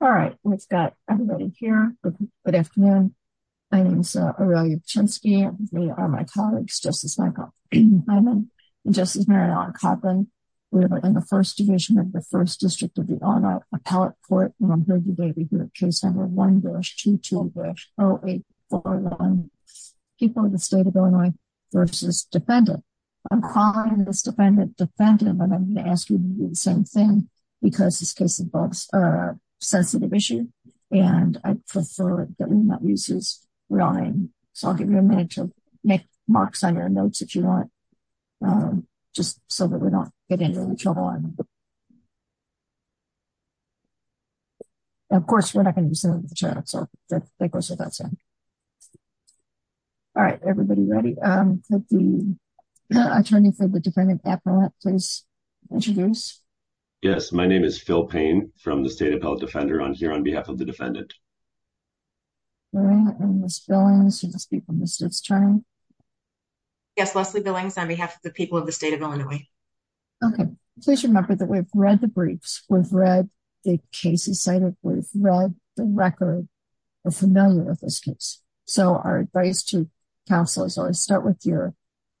All right, we've got everybody here. Good afternoon. My name is a really chance. We are my colleagues, just as Michael, and just as Mary on carbon. We're in the 1st division of the 1st district of the honor appellate court. I'm going to ask you to do the same thing, because this case involves a sensitive issue. And I prefer that we not uses running. So I'll give you a minute to make marks on your notes that you want. Just so that we don't get into trouble. Of course, we're not going to the chat so that goes without saying. All right, everybody ready. Attorney for the defendant please introduce. Yes, my name is Phil pain from the state appellate defender on here on behalf of the defendant. Miss Billings people missed his turn. Yes, Leslie Billings on behalf of the people of the state of Illinois. Okay, please remember that we've read the briefs, we've read the cases cited, we've read the record. So, our advice to counsel is always start with your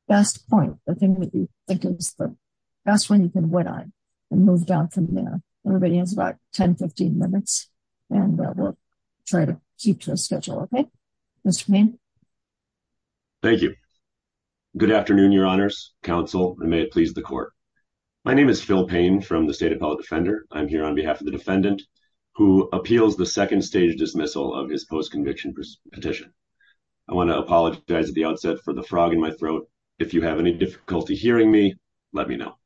best point, the thing that you think is the best one you can win on and move down from there. Everybody has about 1015 minutes, and we'll try to keep to a schedule. Okay. Thank you. Good afternoon, Your Honors Council, and may it please the court. My name is Phil pain from the state appellate defender, I'm here on behalf of the defendant, who appeals the second stage dismissal of his post conviction petition. I want to apologize at the outset for the frog in my throat. If you have any difficulty hearing me, let me know.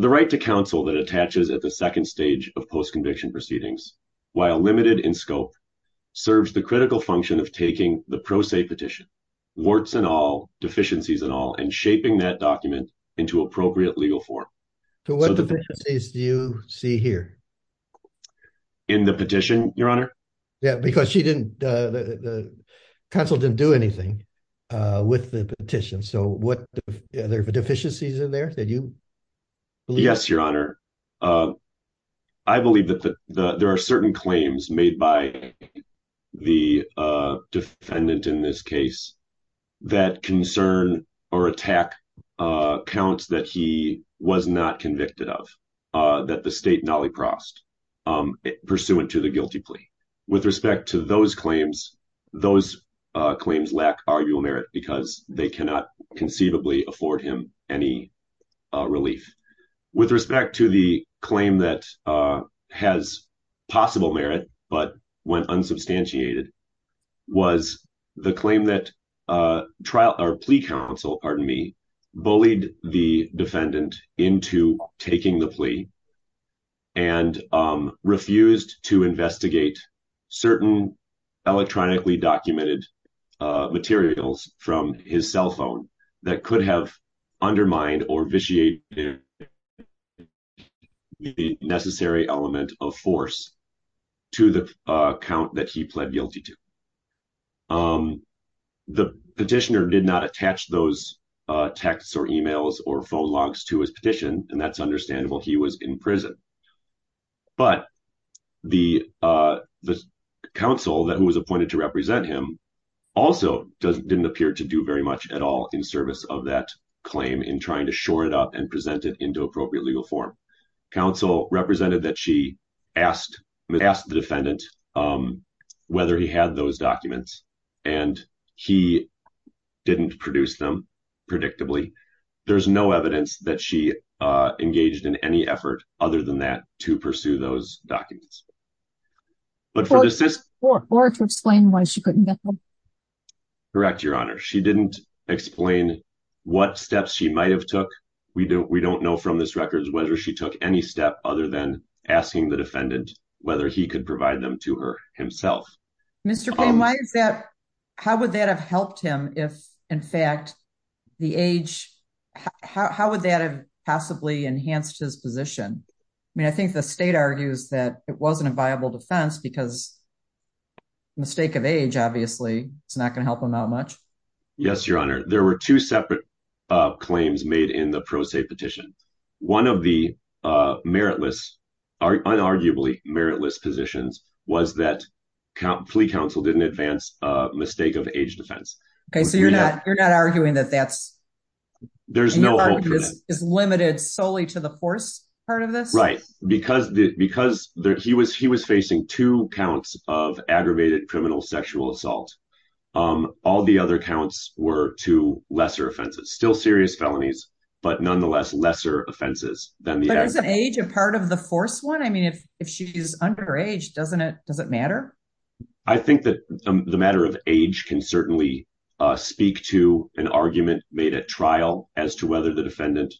The right to counsel that attaches at the second stage of post conviction proceedings, while limited in scope serves the critical function of taking the pro se petition warts and all deficiencies and all and shaping that document into appropriate legal form. So what do you see here in the petition, Your Honor. Yeah, because she didn't. Council didn't do anything with the petition so what other deficiencies in there that you. Yes, Your Honor. I believe that there are certain claims made by the defendant in this case, that concern or attack counts that he was not convicted of that the state nolly crossed pursuant to the guilty plea. With respect to those claims, those claims lack arguable merit because they cannot conceivably afford him any relief with respect to the claim that has possible merit, but when unsubstantiated. Was the claim that trial or plea counsel, pardon me, bullied the defendant into taking the plea and refused to investigate certain electronically documented materials from his cell phone that could have undermined or vitiate. The necessary element of force to the account that he pled guilty to the petitioner did not attach those texts or emails or phone logs to his petition. And that's understandable. He was in prison, but the council that was appointed to represent him also didn't appear to do very much at all in service of that claim in trying to shore it up and present it into appropriate legal form. Council represented that she asked the defendant whether he had those documents and he didn't produce them predictably. There's no evidence that she engaged in any effort other than that to pursue those documents. Or to explain why she couldn't get them. Correct, Your Honor. She didn't explain what steps she might have took. We don't know from this records whether she took any step other than asking the defendant whether he could provide them to her himself. Mr. Payne, how would that have helped him if, in fact, the age, how would that have possibly enhanced his position? I mean, I think the state argues that it wasn't a viable defense because mistake of age, obviously, it's not going to help him out much. Yes, Your Honor. There were two separate claims made in the pro se petition. One of the meritless, unarguably meritless positions was that plea council didn't advance a mistake of age defense. Okay, so you're not arguing that that's is limited solely to the force part of this? Right, because he was facing two counts of aggravated criminal sexual assault. All the other counts were to lesser offenses, still serious felonies, but nonetheless, lesser offenses than the aggravated. But isn't age a part of the force one? I mean, if she's underage, doesn't it matter? I think that the matter of age can certainly speak to an argument made at trial as to whether the defendant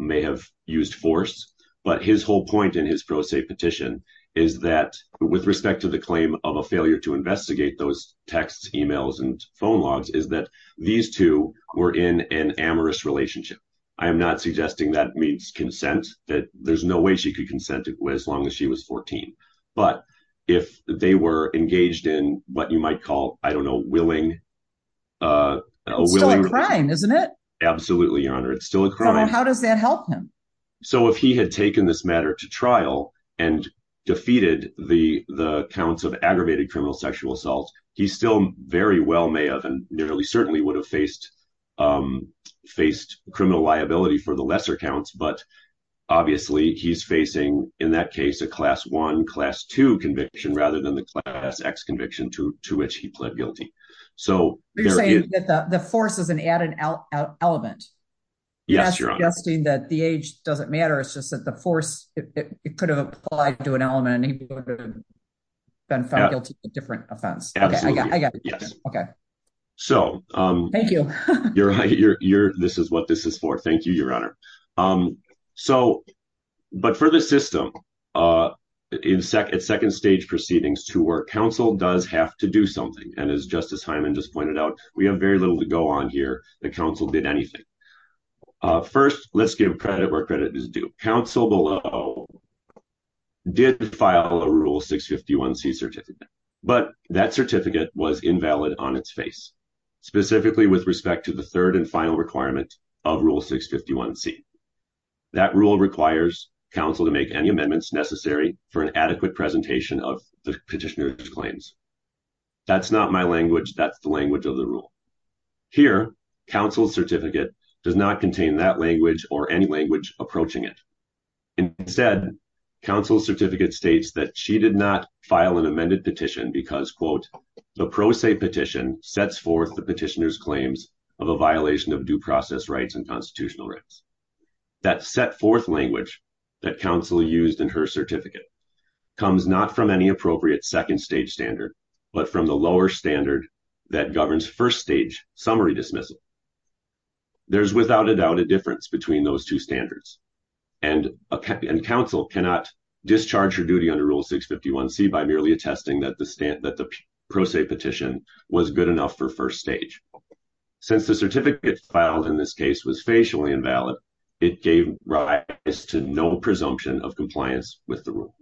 may have used force. But his whole point in his pro se petition is that with respect to the claim of a failure to investigate those texts, emails and phone logs is that these two were in an amorous relationship. And I am not suggesting that means consent, that there's no way she could consent as long as she was 14. But if they were engaged in what you might call, I don't know, willing. It's still a crime, isn't it? Absolutely, Your Honor. It's still a crime. How does that help him? So if he had taken this matter to trial and defeated the counts of aggravated criminal sexual assault, he still very well may have and nearly certainly would have faced criminal liability for the lesser counts. But obviously, he's facing, in that case, a class one, class two conviction rather than the class X conviction to which he pled guilty. You're saying that the force is an added element. Yes, Your Honor. I'm not suggesting that the age doesn't matter. It's just that the force, it could have applied to an element and he would have been found guilty of a different offense. Absolutely. I got it. Thank you. This is what this is for. Thank you, Your Honor. So, but for the system, in second stage proceedings to work, counsel does have to do something. And as Justice Hyman just pointed out, we have very little to go on here. The counsel did anything. First, let's give credit where credit is due. Counsel below did file a Rule 651C certificate, but that certificate was invalid on its face, specifically with respect to the third and final requirement of Rule 651C. That rule requires counsel to make any amendments necessary for an adequate presentation of the petitioner's claims. That's not my language. That's the language of the rule. Here, counsel's certificate does not contain that language or any language approaching it. Instead, counsel's certificate states that she did not file an amended petition because, quote, the pro se petition sets forth the petitioner's claims of a violation of due process rights and constitutional rights. That set forth language that counsel used in her certificate comes not from any appropriate second stage standard, but from the lower standard that governs first stage summary dismissal. There's without a doubt a difference between those two standards. And counsel cannot discharge her duty under Rule 651C by merely attesting that the pro se petition was good enough for first stage. Since the certificate filed in this case was facially invalid, it gave rise to no presumption of compliance with the rule.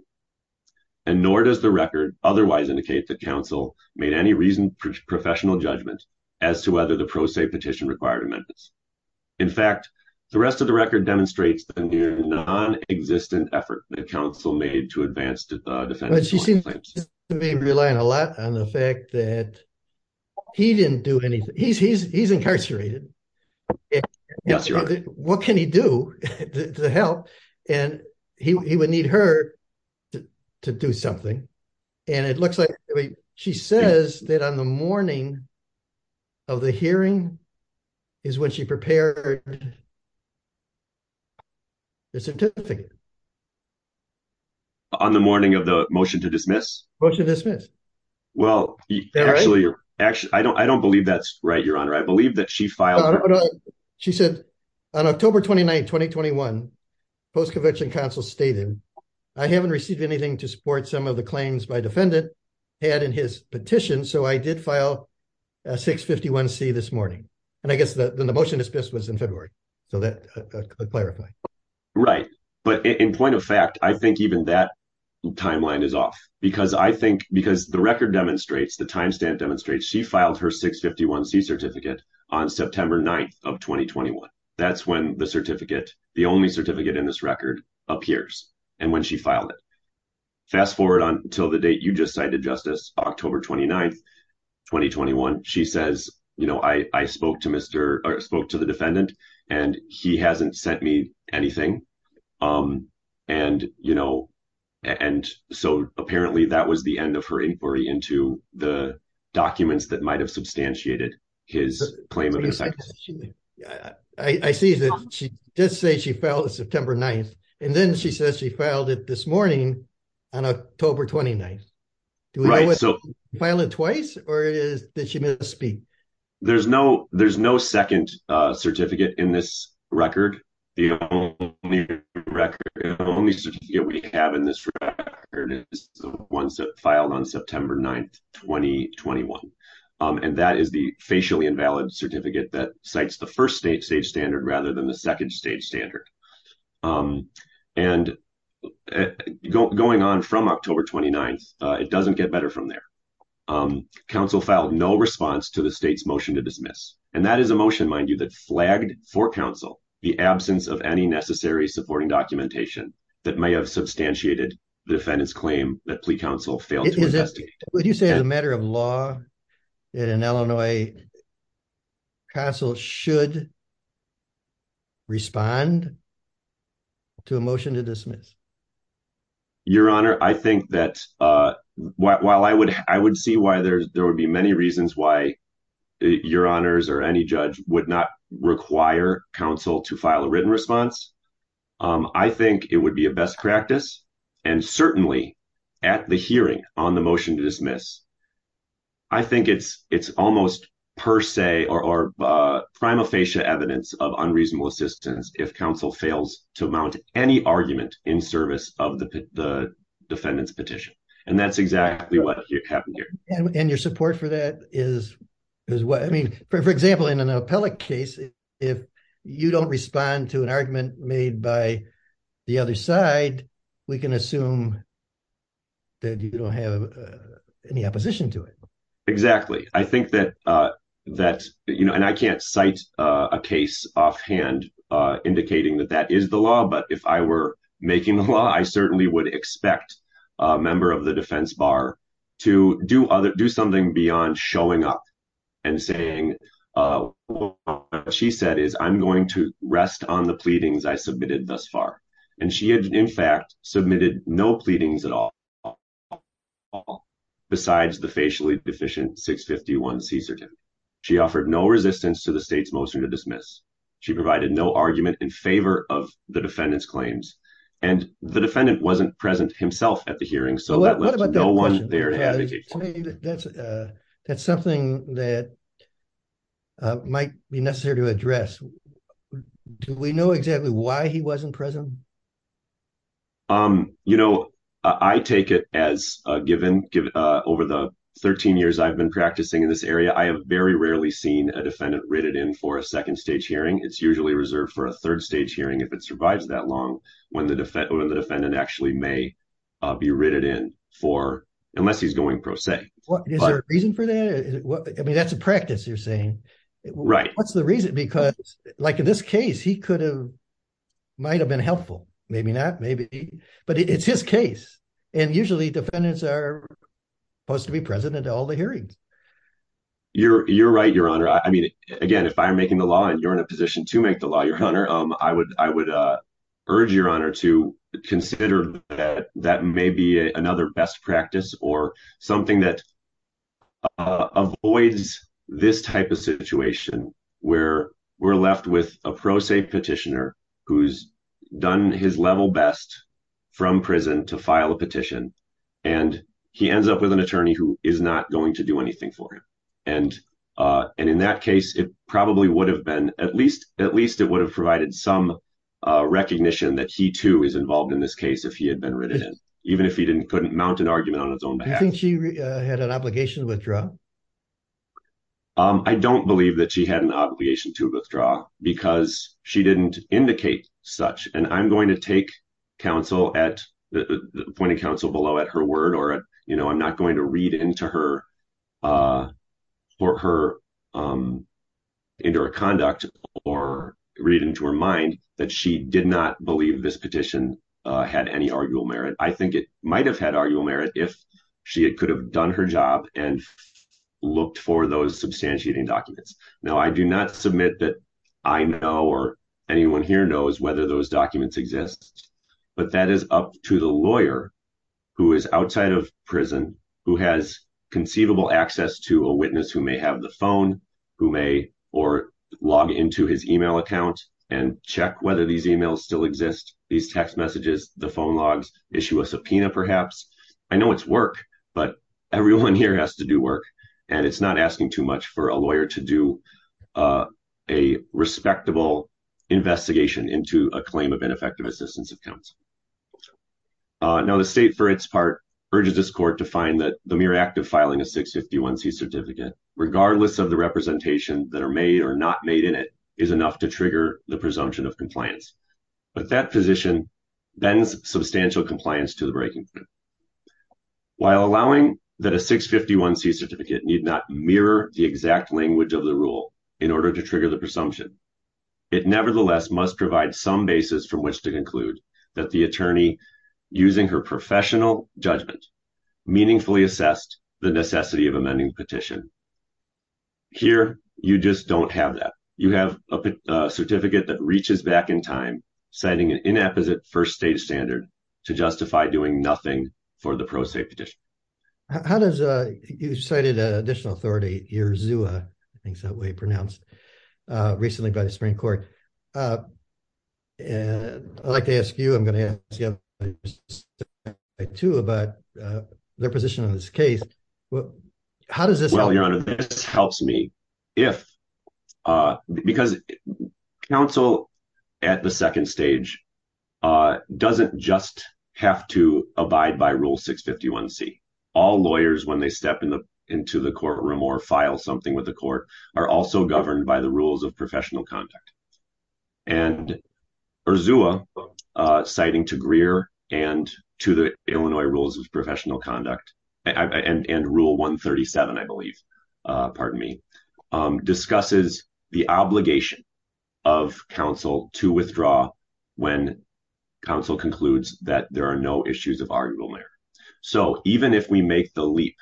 And nor does the record otherwise indicate that counsel made any reasoned professional judgment as to whether the pro se petition required amendments. In fact, the rest of the record demonstrates the near non-existent effort that counsel made to advance the defendant's claims. But she seems to be relying a lot on the fact that he didn't do anything. He's incarcerated. What can he do to help? And he would need her to do something. And it looks like she says that on the morning of the hearing is when she prepared the certificate. On the morning of the motion to dismiss? Motion to dismiss. Well, actually, I don't believe that's right, Your Honor. I believe that she filed. She said on October 29, 2021, post-convention counsel stated, I haven't received anything to support some of the claims my defendant had in his petition. So I did file a 651C this morning. And I guess the motion to dismiss was in February. So that could clarify. Right. But in point of fact, I think even that timeline is off because I think because the record demonstrates the time stamp demonstrates she filed her 651C certificate on September 9th of 2021. That's when the certificate, the only certificate in this record appears and when she filed it. Fast forward until the date you just cited, Justice, October 29th, 2021. She says, you know, I spoke to the defendant and he hasn't sent me anything. And, you know, and so apparently that was the end of her inquiry into the documents that might have substantiated his claim. I see that she did say she filed it September 9th. And then she says she filed it this morning on October 29th. Do we file it twice or did she misspeak? There's no second certificate in this record. The only record, the only certificate we have in this record is the one that filed on September 9th, 2021. And that is the facially invalid certificate that cites the first stage standard rather than the second stage standard. And going on from October 29th, it doesn't get better from there. Counsel filed no response to the state's motion to dismiss. And that is a motion, mind you, that flagged for counsel the absence of any necessary supporting documentation that may have substantiated the defendant's claim that plea counsel failed to investigate. Would you say as a matter of law that an Illinois counsel should respond to a motion to dismiss? Your Honor, I think that while I would see why there would be many reasons why Your Honors or any judge would not require counsel to file a written response, I think it would be a best practice and certainly at the hearing on the motion to dismiss, I think it's almost per se or prima facie evidence of unreasonable assistance if counsel fails to mount any argument in service of the defendant's petition. And that's exactly what happened here. And your support for that is, I mean, for example, in an appellate case, if you don't respond to an argument made by the other side, we can assume that you don't have any opposition to it. Exactly. I think that that, you know, and I can't cite a case offhand indicating that that is the law. But if I were making the law, I certainly would expect a member of the defense bar to do other do something beyond showing up and saying she said is I'm going to rest on the pleadings I submitted thus far. And she had, in fact, submitted no pleadings at all. Besides the facially deficient 651C. She offered no resistance to the state's motion to dismiss. She provided no argument in favor of the defendant's claims and the defendant wasn't present himself at the hearing. That's something that might be necessary to address. Do we know exactly why he wasn't present? You know, I take it as a given over the 13 years I've been practicing in this area, I have very rarely seen a defendant rated in for a second stage hearing. It's usually reserved for a third stage hearing if it survives that long when the defendant actually may be rated in for unless he's going pro se. Is there a reason for that? I mean, that's a practice you're saying. Right. What's the reason? Because like in this case, he could have might have been helpful. Maybe not. Maybe, but it's his case. And usually defendants are supposed to be present at all the hearings. You're right, Your Honor. I mean, again, if I'm making the law and you're in a position to make the law, Your Honor, I would urge Your Honor to consider that that may be another best practice or something that avoids this type of situation where we're left with a pro se petitioner who's done his level best from prison to file a petition. And he ends up with an attorney who is not going to do anything for him. And in that case, it probably would have been at least it would have provided some recognition that he too is involved in this case if he had been rated in, even if he couldn't mount an argument on his own behalf. Do you think she had an obligation to withdraw? I don't believe that she had an obligation to withdraw because she didn't indicate such. And I'm going to take counsel at the point of counsel below at her word or, you know, I'm not going to read into her or her into her conduct or read into her mind that she did not believe this petition had any arguable merit. But I think it might have had arguable merit if she could have done her job and looked for those substantiating documents. Now, I do not submit that I know or anyone here knows whether those documents exist. But that is up to the lawyer who is outside of prison, who has conceivable access to a witness who may have the phone, who may or log into his email account and check whether these emails still exist. These text messages, the phone logs issue a subpoena. Perhaps I know it's work, but everyone here has to do work and it's not asking too much for a lawyer to do a respectable investigation into a claim of ineffective assistance accounts. Now, the state, for its part, urges this court to find that the mere act of filing a 651C certificate, regardless of the representation that are made or not made in it, is enough to trigger the presumption of compliance. But that position bends substantial compliance to the breaking point. While allowing that a 651C certificate need not mirror the exact language of the rule in order to trigger the presumption, it nevertheless must provide some basis from which to conclude that the attorney, using her professional judgment, meaningfully assessed the necessity of amending the petition. Here, you just don't have that. You have a certificate that reaches back in time, setting an inapposite first stage standard to justify doing nothing for the pro se petition. You cited an additional authority, I think it's that way pronounced, recently by the Supreme Court. I'd like to ask you, I'm going to ask you about their position on this case. Well, Your Honor, this helps me, because counsel at the second stage doesn't just have to abide by Rule 651C. All lawyers, when they step into the courtroom or file something with the court, are also governed by the rules of professional conduct. And Urzula, citing to Greer and to the Illinois rules of professional conduct, and Rule 137, I believe, pardon me, discusses the obligation of counsel to withdraw when counsel concludes that there are no issues of argument. So even if we make the leap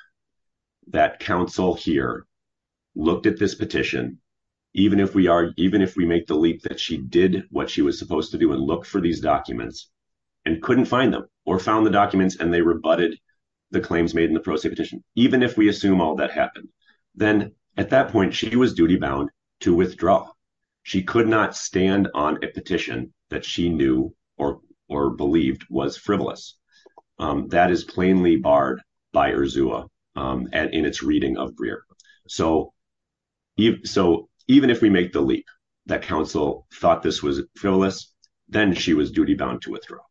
that counsel here looked at this petition, even if we are, even if we make the leap that she did what she was supposed to do and look for these documents and couldn't find them or found the documents and they rebutted the claims made in the pro se petition, even if we assume all that happened, then at that point, she was duty bound to withdraw. She could not stand on a petition that she knew or believed was frivolous. That is plainly barred by Urzula and in its reading of Greer. So even if we make the leap that counsel thought this was frivolous, then she was duty bound to withdraw.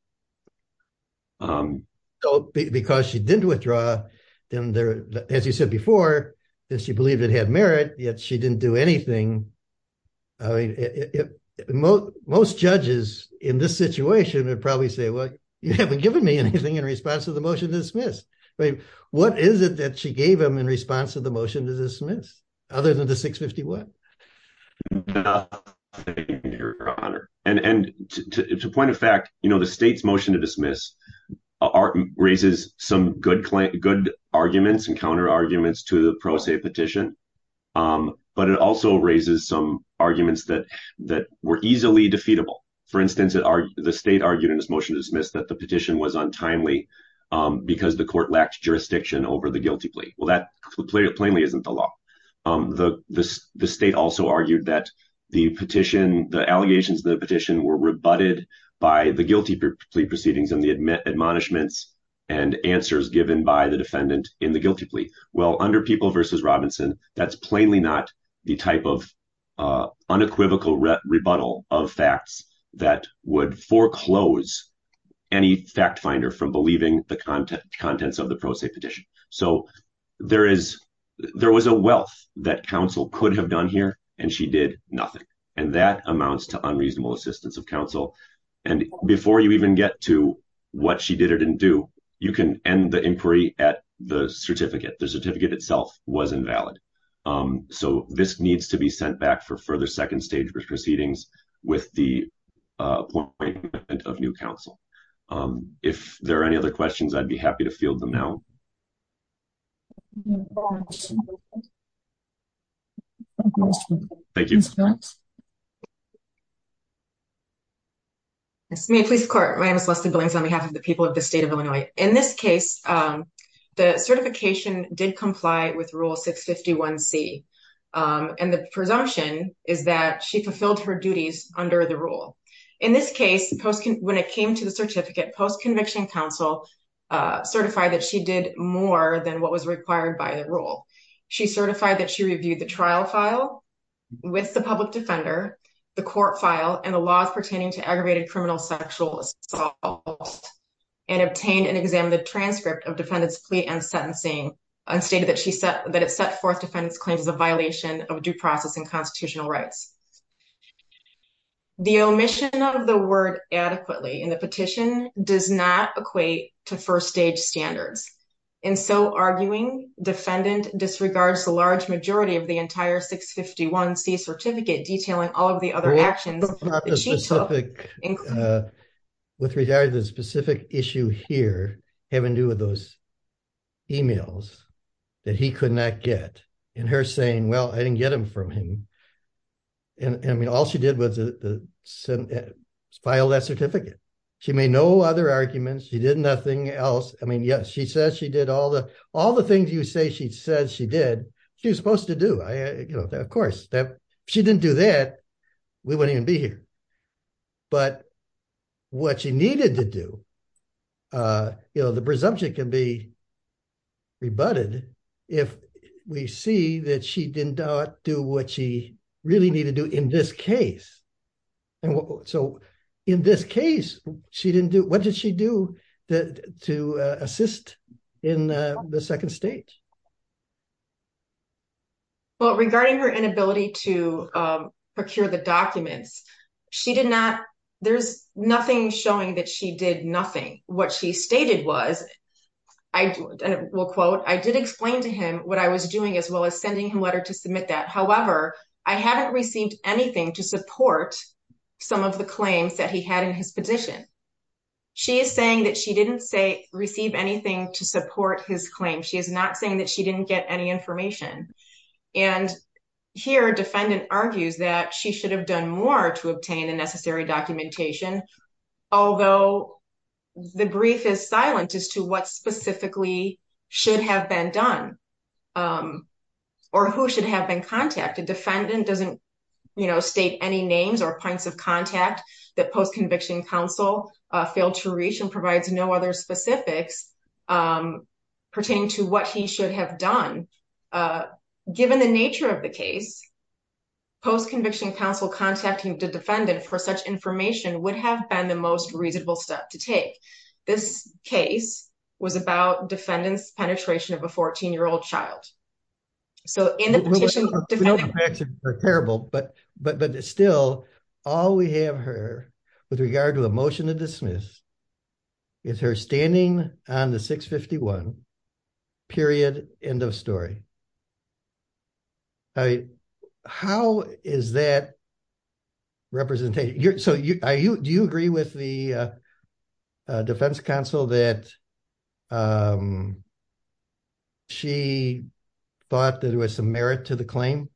Because she didn't withdraw, as you said before, she believed it had merit, yet she didn't do anything. Most judges in this situation would probably say, well, you haven't given me anything in response to the motion to dismiss. What is it that she gave him in response to the motion to dismiss other than the 651? Your Honor, and to point of fact, you know, the state's motion to dismiss raises some good, good arguments and counter arguments to the pro se petition. But it also raises some arguments that that were easily defeatable. For instance, the state argued in this motion to dismiss that the petition was untimely because the court lacked jurisdiction over the guilty plea. Well, that plainly isn't the law. The state also argued that the petition, the allegations of the petition were rebutted by the guilty plea proceedings and the admonishments and answers given by the defendant in the guilty plea. Well, under People v. Robinson, that's plainly not the type of unequivocal rebuttal of facts that would foreclose any fact finder from believing the contents of the pro se petition. So there was a wealth that counsel could have done here, and she did nothing. And that amounts to unreasonable assistance of counsel. And before you even get to what she did or didn't do, you can end the inquiry at the certificate. The certificate itself was invalid. So this needs to be sent back for further second stage proceedings with the appointment of new counsel. If there are any other questions, I'd be happy to field them now. Thank you. My name is Celeste Billings on behalf of the people of the state of Illinois. In this case, the certification did comply with Rule 651C. And the presumption is that she fulfilled her duties under the rule. In this case, when it came to the certificate, post-conviction counsel certified that she did more than what was required by the rule. She certified that she reviewed the trial file with the public defender, the court file, and the laws pertaining to aggravated criminal sexual assault. And obtained and examined the transcript of defendant's plea and sentencing and stated that it set forth defendant's claims as a violation of due process and constitutional rights. The omission of the word adequately in the petition does not equate to first stage standards. And so arguing, defendant disregards the large majority of the entire 651C certificate detailing all of the other actions that she took. With regard to the specific issue here, having to do with those emails that he could not get, and her saying, well, I didn't get them from him. And I mean, all she did was file that certificate. She made no other arguments, she did nothing else. I mean, yes, she says she did all the things you say she says she did, she was supposed to do. Of course, if she didn't do that, we wouldn't even be here. But what she needed to do, you know, the presumption can be rebutted if we see that she didn't do what she really needed to do in this case. And so in this case, what did she do to assist in the second stage? Well, regarding her inability to procure the documents, she did not, there's nothing showing that she did nothing. What she stated was, I will quote, I did explain to him what I was doing as well as sending him a letter to submit that. However, I haven't received anything to support some of the claims that he had in his position. She is saying that she didn't say receive anything to support his claim. She is not saying that she didn't get any information. And here, defendant argues that she should have done more to obtain the necessary documentation. Although the brief is silent as to what specifically should have been done or who should have been contacted. Defendant doesn't state any names or points of contact that Post-Conviction Counsel failed to reach and provides no other specifics pertaining to what he should have done. Given the nature of the case, Post-Conviction Counsel contacting the defendant for such information would have been the most reasonable step to take. This case was about defendant's penetration of a 14-year-old child. So in the petition, defendant... But still, all we have heard with regard to a motion to dismiss is her standing on the 651, period, end of story. How is that represented? Do you agree with the defense counsel that she thought there was some merit to the claim?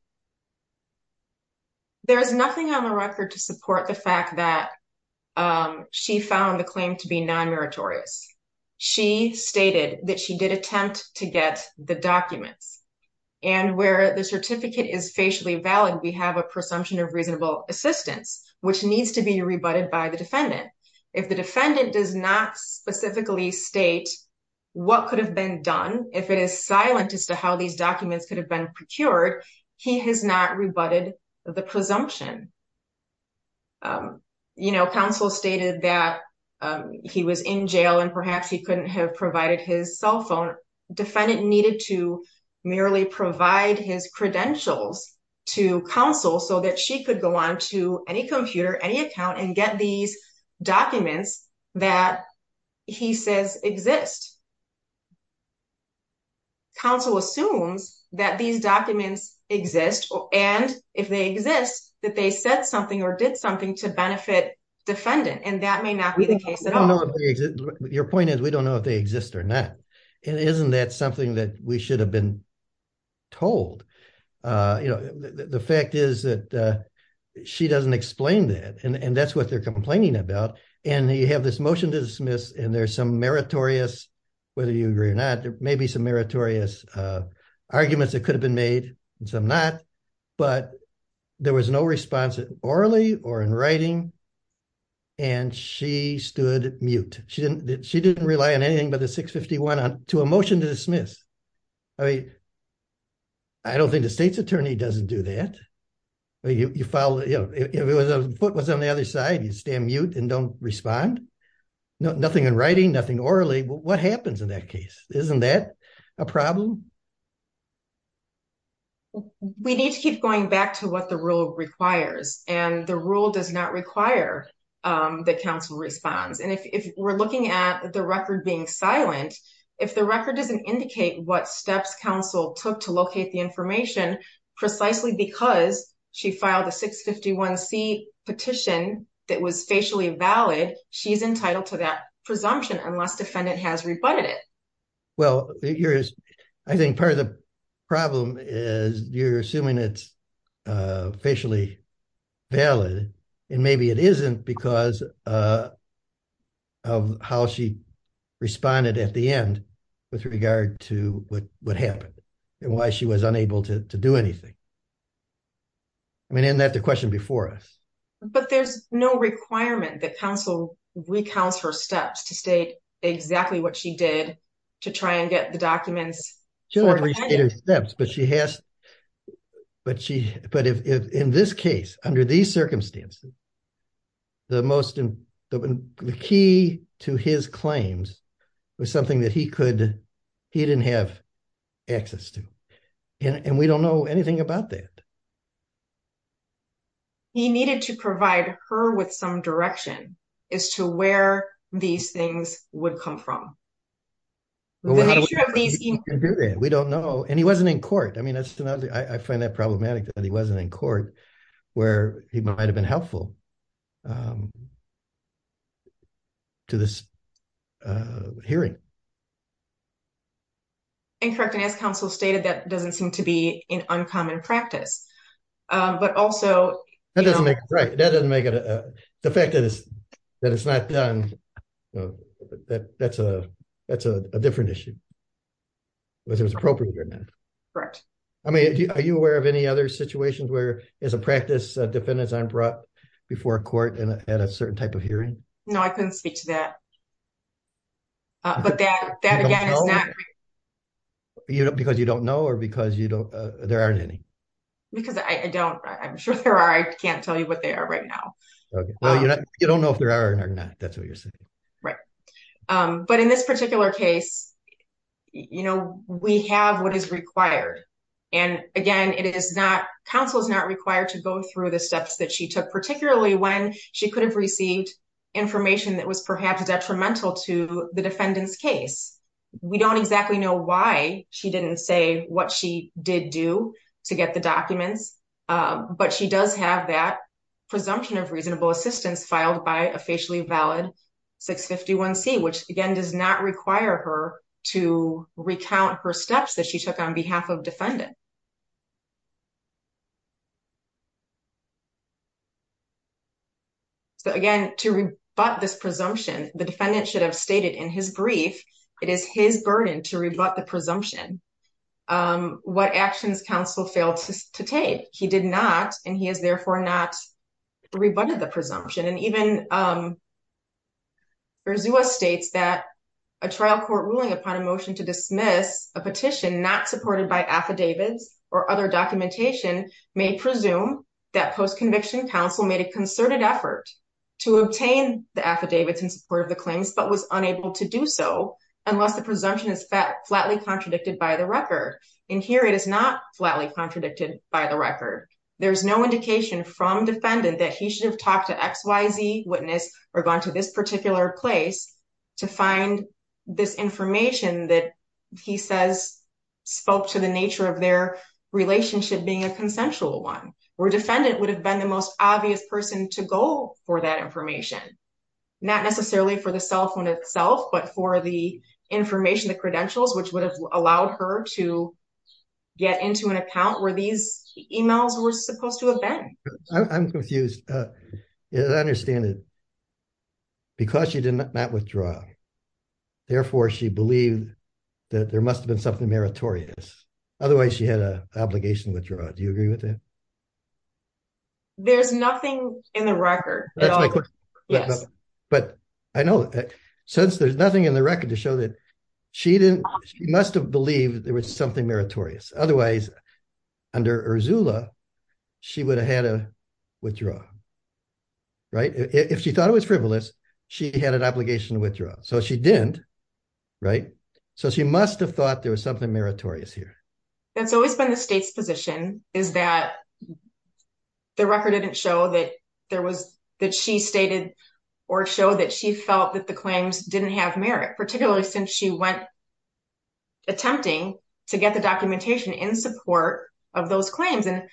There is nothing on the record to support the fact that she found the claim to be non-meritorious. She stated that she did attempt to get the documents. And where the certificate is facially valid, we have a presumption of reasonable assistance, which needs to be rebutted by the defendant. If the defendant does not specifically state what could have been done, if it is silent as to how these documents could have been procured, he has not rebutted the presumption. Counsel stated that he was in jail and perhaps he couldn't have provided his cell phone. Defendant needed to merely provide his credentials to counsel so that she could go on to any computer, any account, and get these documents that he says exist. Counsel assumes that these documents exist, and if they exist, that they said something or did something to benefit defendant. And that may not be the case at all. Your point is, we don't know if they exist or not. And isn't that something that we should have been told? The fact is that she doesn't explain that, and that's what they're complaining about. And you have this motion to dismiss, and there's some meritorious, whether you agree or not, there may be some meritorious arguments that could have been made and some not. But there was no response orally or in writing, and she stood mute. She didn't rely on anything but the 651 to a motion to dismiss. I mean, I don't think the state's attorney doesn't do that. If the foot was on the other side, you'd stand mute and don't respond? Nothing in writing, nothing orally. What happens in that case? Isn't that a problem? We need to keep going back to what the rule requires, and the rule does not require that counsel responds. And if we're looking at the record being silent, if the record doesn't indicate what steps counsel took to locate the information, precisely because she filed a 651C petition that was facially valid, she's entitled to that presumption unless defendant has rebutted it. Well, I think part of the problem is you're assuming it's facially valid, and maybe it isn't because of how she responded at the end with regard to what happened and why she was unable to do anything. I mean, isn't that the question before us? But there's no requirement that counsel recounts her steps to state exactly what she did to try and get the documents. She'll recount her steps, but in this case, under these circumstances, the key to his claims was something that he didn't have access to. And we don't know anything about that. He needed to provide her with some direction as to where these things would come from. We don't know, and he wasn't in court. I mean, I find that problematic that he wasn't in court where he might have been helpful to this hearing. Incorrect, and as counsel stated, that doesn't seem to be an uncommon practice, but also... That doesn't make it... the fact that it's not done, that's a different issue. Whether it's appropriate or not. Correct. I mean, are you aware of any other situations where, as a practice, defendants aren't brought before court at a certain type of hearing? No, I couldn't speak to that. But that, again, is not... You don't know? Because you don't know or because you don't... there aren't any. Because I don't... I'm sure there are. I can't tell you what they are right now. Well, you don't know if there are or not. That's what you're saying. Right. But in this particular case, we have what is required. And, again, it is not... counsel is not required to go through the steps that she took, particularly when she could have received information that was perhaps detrimental to the defendant's case. We don't exactly know why she didn't say what she did do to get the documents. But she does have that presumption of reasonable assistance filed by a facially valid 651C, which, again, does not require her to recount her steps that she took on behalf of defendant. So, again, to rebut this presumption, the defendant should have stated in his brief, it is his burden to rebut the presumption, what actions counsel failed to take. He did not, and he has therefore not rebutted the presumption. And even Verzua states that a trial court ruling upon a motion to dismiss a petition not supported by affidavits or other documentation may presume that post-conviction counsel made a concerted effort to obtain the affidavits in support of the claims, but was unable to do so unless the presumption is flatly contradicted by the record. In here, it is not flatly contradicted by the record. There's no indication from defendant that he should have talked to XYZ witness or gone to this particular place to find this information that he says spoke to the nature of their relationship being a consensual one. Where defendant would have been the most obvious person to go for that information, not necessarily for the cell phone itself, but for the information, the credentials, which would have allowed her to get into an account where these emails were supposed to have been. I'm confused. I understand it because she did not withdraw. Therefore, she believed that there must have been something meritorious. Otherwise, she had an obligation to withdraw. Do you agree with that? There's nothing in the record. But I know that since there's nothing in the record to show that she didn't, she must have believed there was something meritorious. Otherwise, under Ursula, she would have had to withdraw. Right. If she thought it was frivolous, she had an obligation to withdraw. So she didn't. Right. So she must have thought there was something meritorious here. That's always been the state's position is that the record didn't show that there was that she stated or show that she felt that the claims didn't have merit, particularly since she went attempting to get the documentation in support of those claims and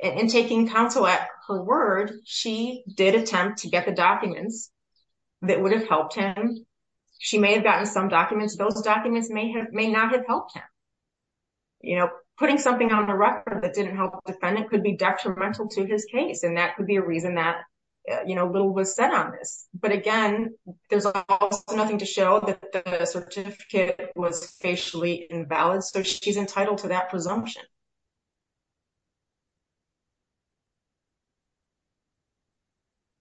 in taking counsel at her word. She did attempt to get the documents that would have helped him. She may have gotten some documents. Those documents may have may not have helped him. You know, putting something on the record that didn't help the defendant could be detrimental to his case, and that could be a reason that, you know, little was said on this. But again, there's nothing to show that the certificate was facially invalid. So she's entitled to that presumption.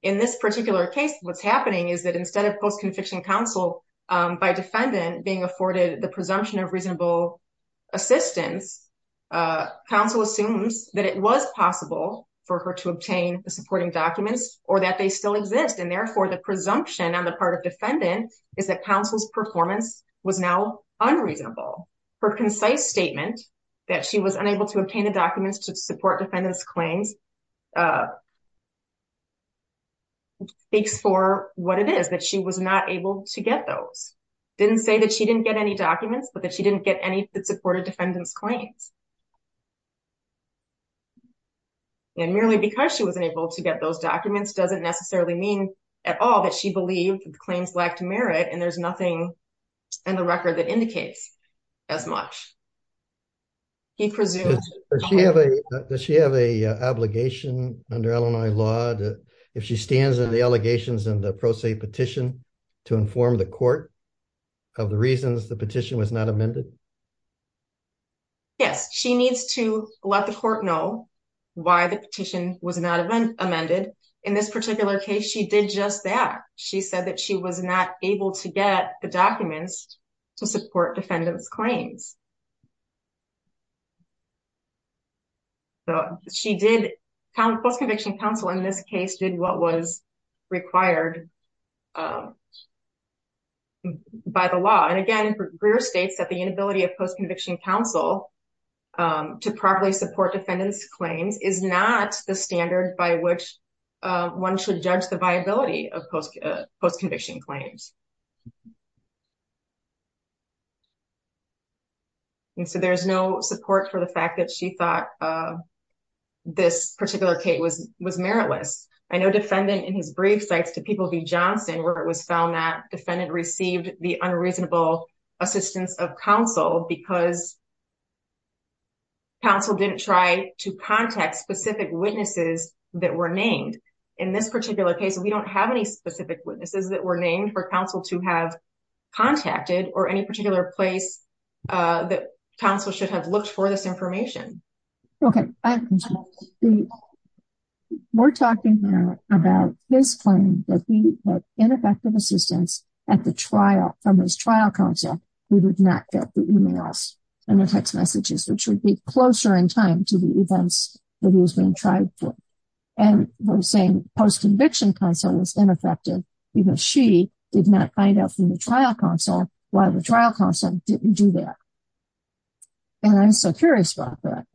In this particular case, what's happening is that instead of post-conviction counsel by defendant being afforded the presumption of reasonable assistance, counsel assumes that it was possible for her to obtain the supporting documents or that they still exist. And therefore, the presumption on the part of defendant is that counsel's performance was now unreasonable. Her concise statement that she was unable to obtain the documents to support defendant's claims speaks for what it is, that she was not able to get those. Didn't say that she didn't get any documents, but that she didn't get any that supported defendant's claims. And merely because she wasn't able to get those documents doesn't necessarily mean at all that she believed the claims lacked merit, and there's nothing in the record that indicates as much. Does she have a obligation under Illinois law if she stands in the allegations in the pro se petition to inform the court of the reasons the petition was not amended? Yes, she needs to let the court know why the petition was not amended. In this particular case, she did just that. She said that she was not able to get the documents to support defendant's claims. So she did post-conviction counsel in this case did what was required by the law. And again, Greer states that the inability of post-conviction counsel to properly support defendant's claims is not the standard by which one should judge the viability of post-conviction claims. And so there's no support for the fact that she thought this particular case was meritless. I know defendant in his brief sites to People v. Johnson where it was found that defendant received the unreasonable assistance of counsel because counsel didn't try to contact specific witnesses that were named. In this particular case, we don't have any specific witnesses that were named for counsel to have contacted or any particular place that counsel should have looked for this information. We're talking about his claim that he had ineffective assistance at the trial from his trial counsel. We would not get the emails and text messages, which would be closer in time to the events that he was being tried for. And the same post-conviction counsel was ineffective because she did not find out from the trial counsel why the trial counsel didn't do that. And I'm so curious about that.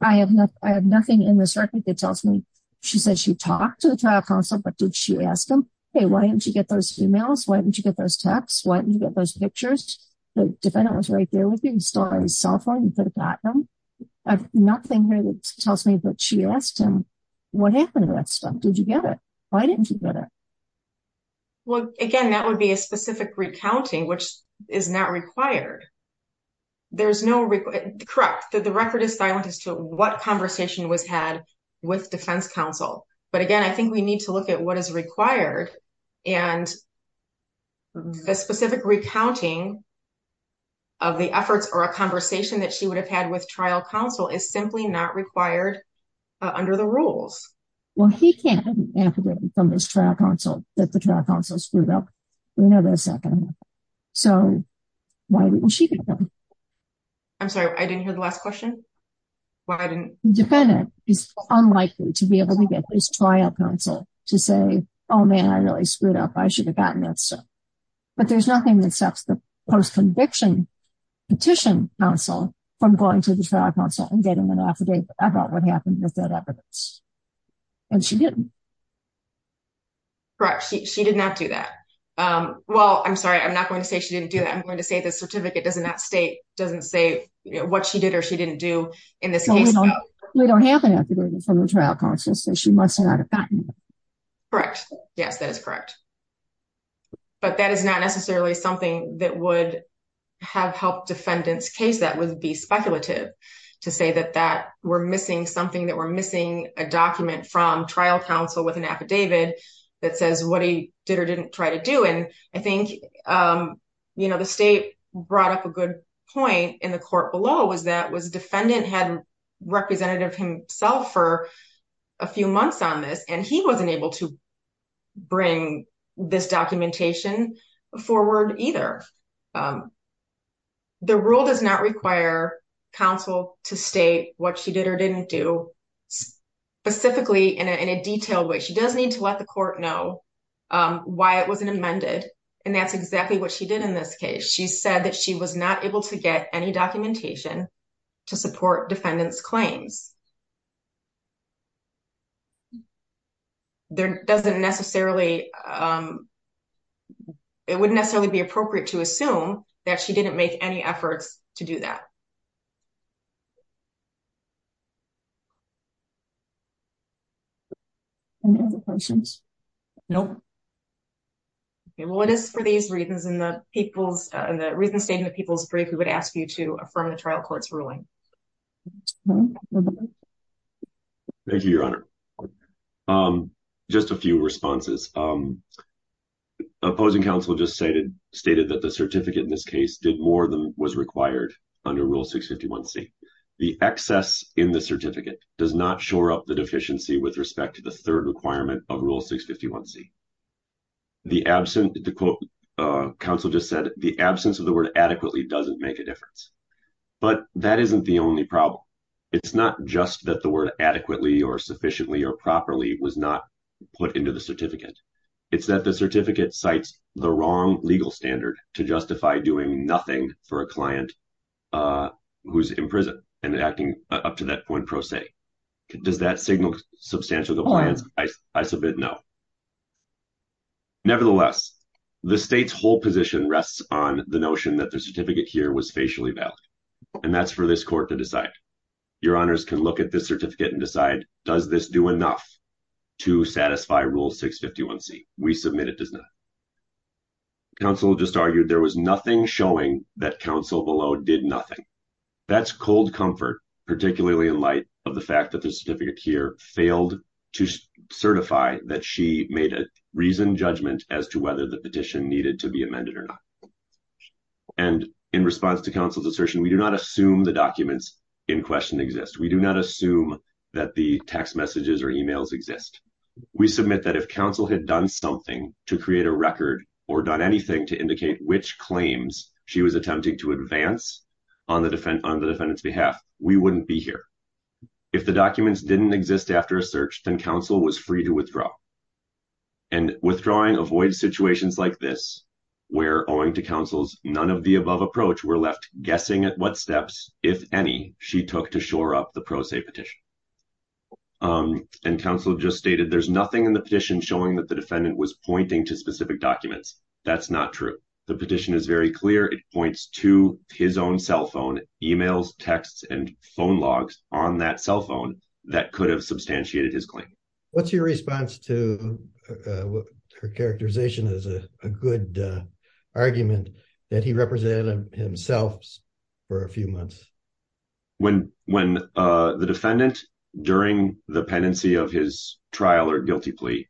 I have nothing in this record that tells me she said she talked to the trial counsel, but did she ask him? Hey, why didn't you get those emails? Why didn't you get those texts? Why didn't you get those pictures? The defendant was right there with you. You stole his cell phone. You could have gotten him. I have nothing here that tells me that she asked him, what happened to that stuff? Did you get it? Why didn't you get it? Well, again, that would be a specific recounting, which is not required. There's no record. Correct. The record is silent as to what conversation was had with defense counsel. But again, I think we need to look at what is required. And the specific recounting of the efforts or a conversation that she would have had with trial counsel is simply not required under the rules. Well, he can't have an affidavit from his trial counsel that the trial counsel screwed up. We know that's not going to happen. So why didn't she get one? I'm sorry, I didn't hear the last question. The defendant is unlikely to be able to get his trial counsel to say, oh, man, I really screwed up. I should have gotten that stuff. But there's nothing that stops the post-conviction petition counsel from going to the trial counsel and getting an affidavit about what happened with that evidence. And she didn't. Correct. She did not do that. Well, I'm sorry, I'm not going to say she didn't do that. I'm going to say the certificate does not state, doesn't say what she did or she didn't do in this case. We don't have an affidavit from the trial counsel, so she must not have gotten it. Correct. Yes, that is correct. But that is not necessarily something that would have helped defendant's case. That would be speculative to say that that we're missing something, that we're missing a document from trial counsel with an affidavit that says what he did or didn't try to do. And I think, you know, the state brought up a good point in the court below was that was defendant had representative himself for a few months on this, and he wasn't able to bring this documentation forward either. The rule does not require counsel to state what she did or didn't do specifically in a detailed way. She does need to let the court know why it wasn't amended. And that's exactly what she did in this case. She said that she was not able to get any documentation to support defendant's claims. There doesn't necessarily. It wouldn't necessarily be appropriate to assume that she didn't make any efforts to do that. Any other questions? Nope. Well, it is for these reasons in the people's and the reason statement, people's brief, we would ask you to affirm the trial court's ruling. Thank you, Your Honor. Just a few responses. Opposing counsel just stated stated that the certificate in this case did more than was required under Rule 651 C. The excess in the certificate does not shore up the deficiency with respect to the third requirement of Rule 651 C. The absent counsel just said the absence of the word adequately doesn't make a difference. But that isn't the only problem. It's not just that the word adequately or sufficiently or properly was not put into the certificate. It's that the certificate cites the wrong legal standard to justify doing nothing for a client who's in prison and acting up to that point pro se. Does that signal substantial compliance? I submit no. Nevertheless, the state's whole position rests on the notion that the certificate here was facially valid. And that's for this court to decide. Your Honors can look at this certificate and decide, does this do enough to satisfy Rule 651 C? We submit it does not. Counsel just argued there was nothing showing that counsel below did nothing. That's cold comfort, particularly in light of the fact that the certificate here failed to certify that she made a reason judgment as to whether the petition needed to be amended or not. And in response to counsel's assertion, we do not assume the documents in question exist. We do not assume that the text messages or emails exist. We submit that if counsel had done something to create a record or done anything to indicate which claims she was attempting to advance on the defendant's behalf, we wouldn't be here. If the documents didn't exist after a search, then counsel was free to withdraw. And withdrawing avoids situations like this, where, owing to counsel's none of the above approach, we're left guessing at what steps, if any, she took to shore up the pro se petition. And counsel just stated there's nothing in the petition showing that the defendant was pointing to specific documents. That's not true. The petition is very clear. It points to his own cell phone emails, texts and phone logs on that cell phone that could have substantiated his claim. What's your response to her characterization as a good argument that he represented himself for a few months? When the defendant, during the pendency of his trial or guilty plea,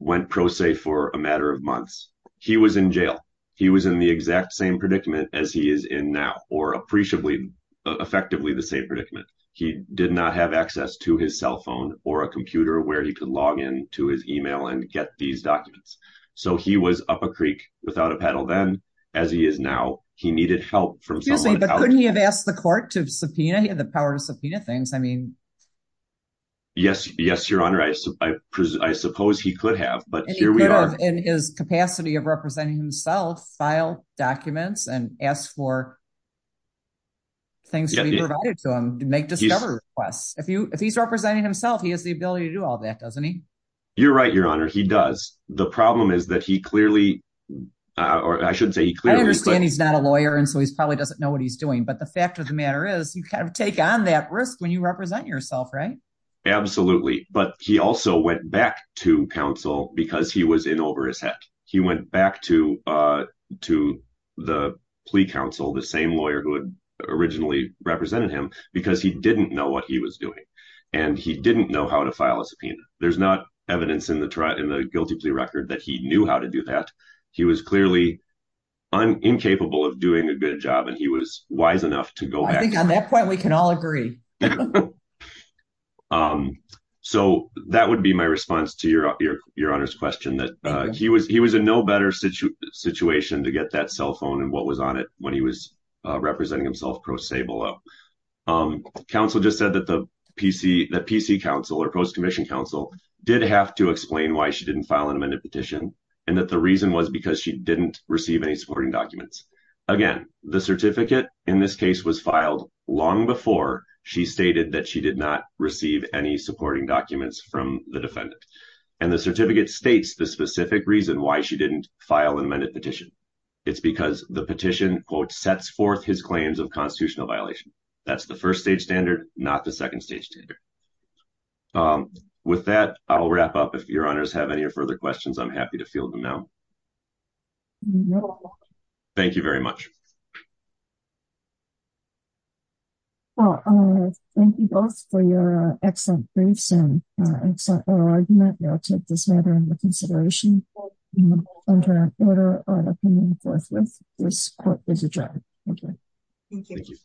went pro se for a matter of months, he was in jail. He was in the exact same predicament as he is in now, or appreciably, effectively the same predicament. He did not have access to his cell phone or a computer where he could log in to his email and get these documents. So he was up a creek without a paddle then. As he is now, he needed help from someone. Excuse me, but couldn't he have asked the court to subpoena? He had the power to subpoena things. I mean. Yes, yes, Your Honor. I suppose he could have, but here we are. He could have, in his capacity of representing himself, filed documents and asked for things to be provided to him to make discovery requests. If he's representing himself, he has the ability to do all that, doesn't he? You're right, Your Honor. He does. The problem is that he clearly, or I shouldn't say he clearly. I understand he's not a lawyer, and so he probably doesn't know what he's doing. But the fact of the matter is you kind of take on that risk when you represent yourself, right? Absolutely. But he also went back to counsel because he was in over his head. He went back to the plea counsel, the same lawyer who had originally represented him, because he didn't know what he was doing. And he didn't know how to file a subpoena. There's not evidence in the guilty plea record that he knew how to do that. He was clearly incapable of doing a good job, and he was wise enough to go back. I think on that point we can all agree. So that would be my response to Your Honor's question, that he was in no better situation to get that cell phone and what was on it when he was representing himself pro se below. Counsel just said that the PC counsel, or post commission counsel, did have to explain why she didn't file an amended petition, and that the reason was because she didn't receive any supporting documents. Again, the certificate in this case was filed long before she stated that she did not receive any supporting documents from the defendant. And the certificate states the specific reason why she didn't file an amended petition. It's because the petition, quote, sets forth his claims of constitutional violation. That's the first-stage standard, not the second-stage standard. With that, I'll wrap up. If Your Honors have any further questions, I'm happy to field them now. Thank you very much. Well, thank you both for your excellent briefs and excellent argument. I'll take this matter into consideration. Under an order, our opinion forthwith, this court is adjourned. Thank you. Thank you.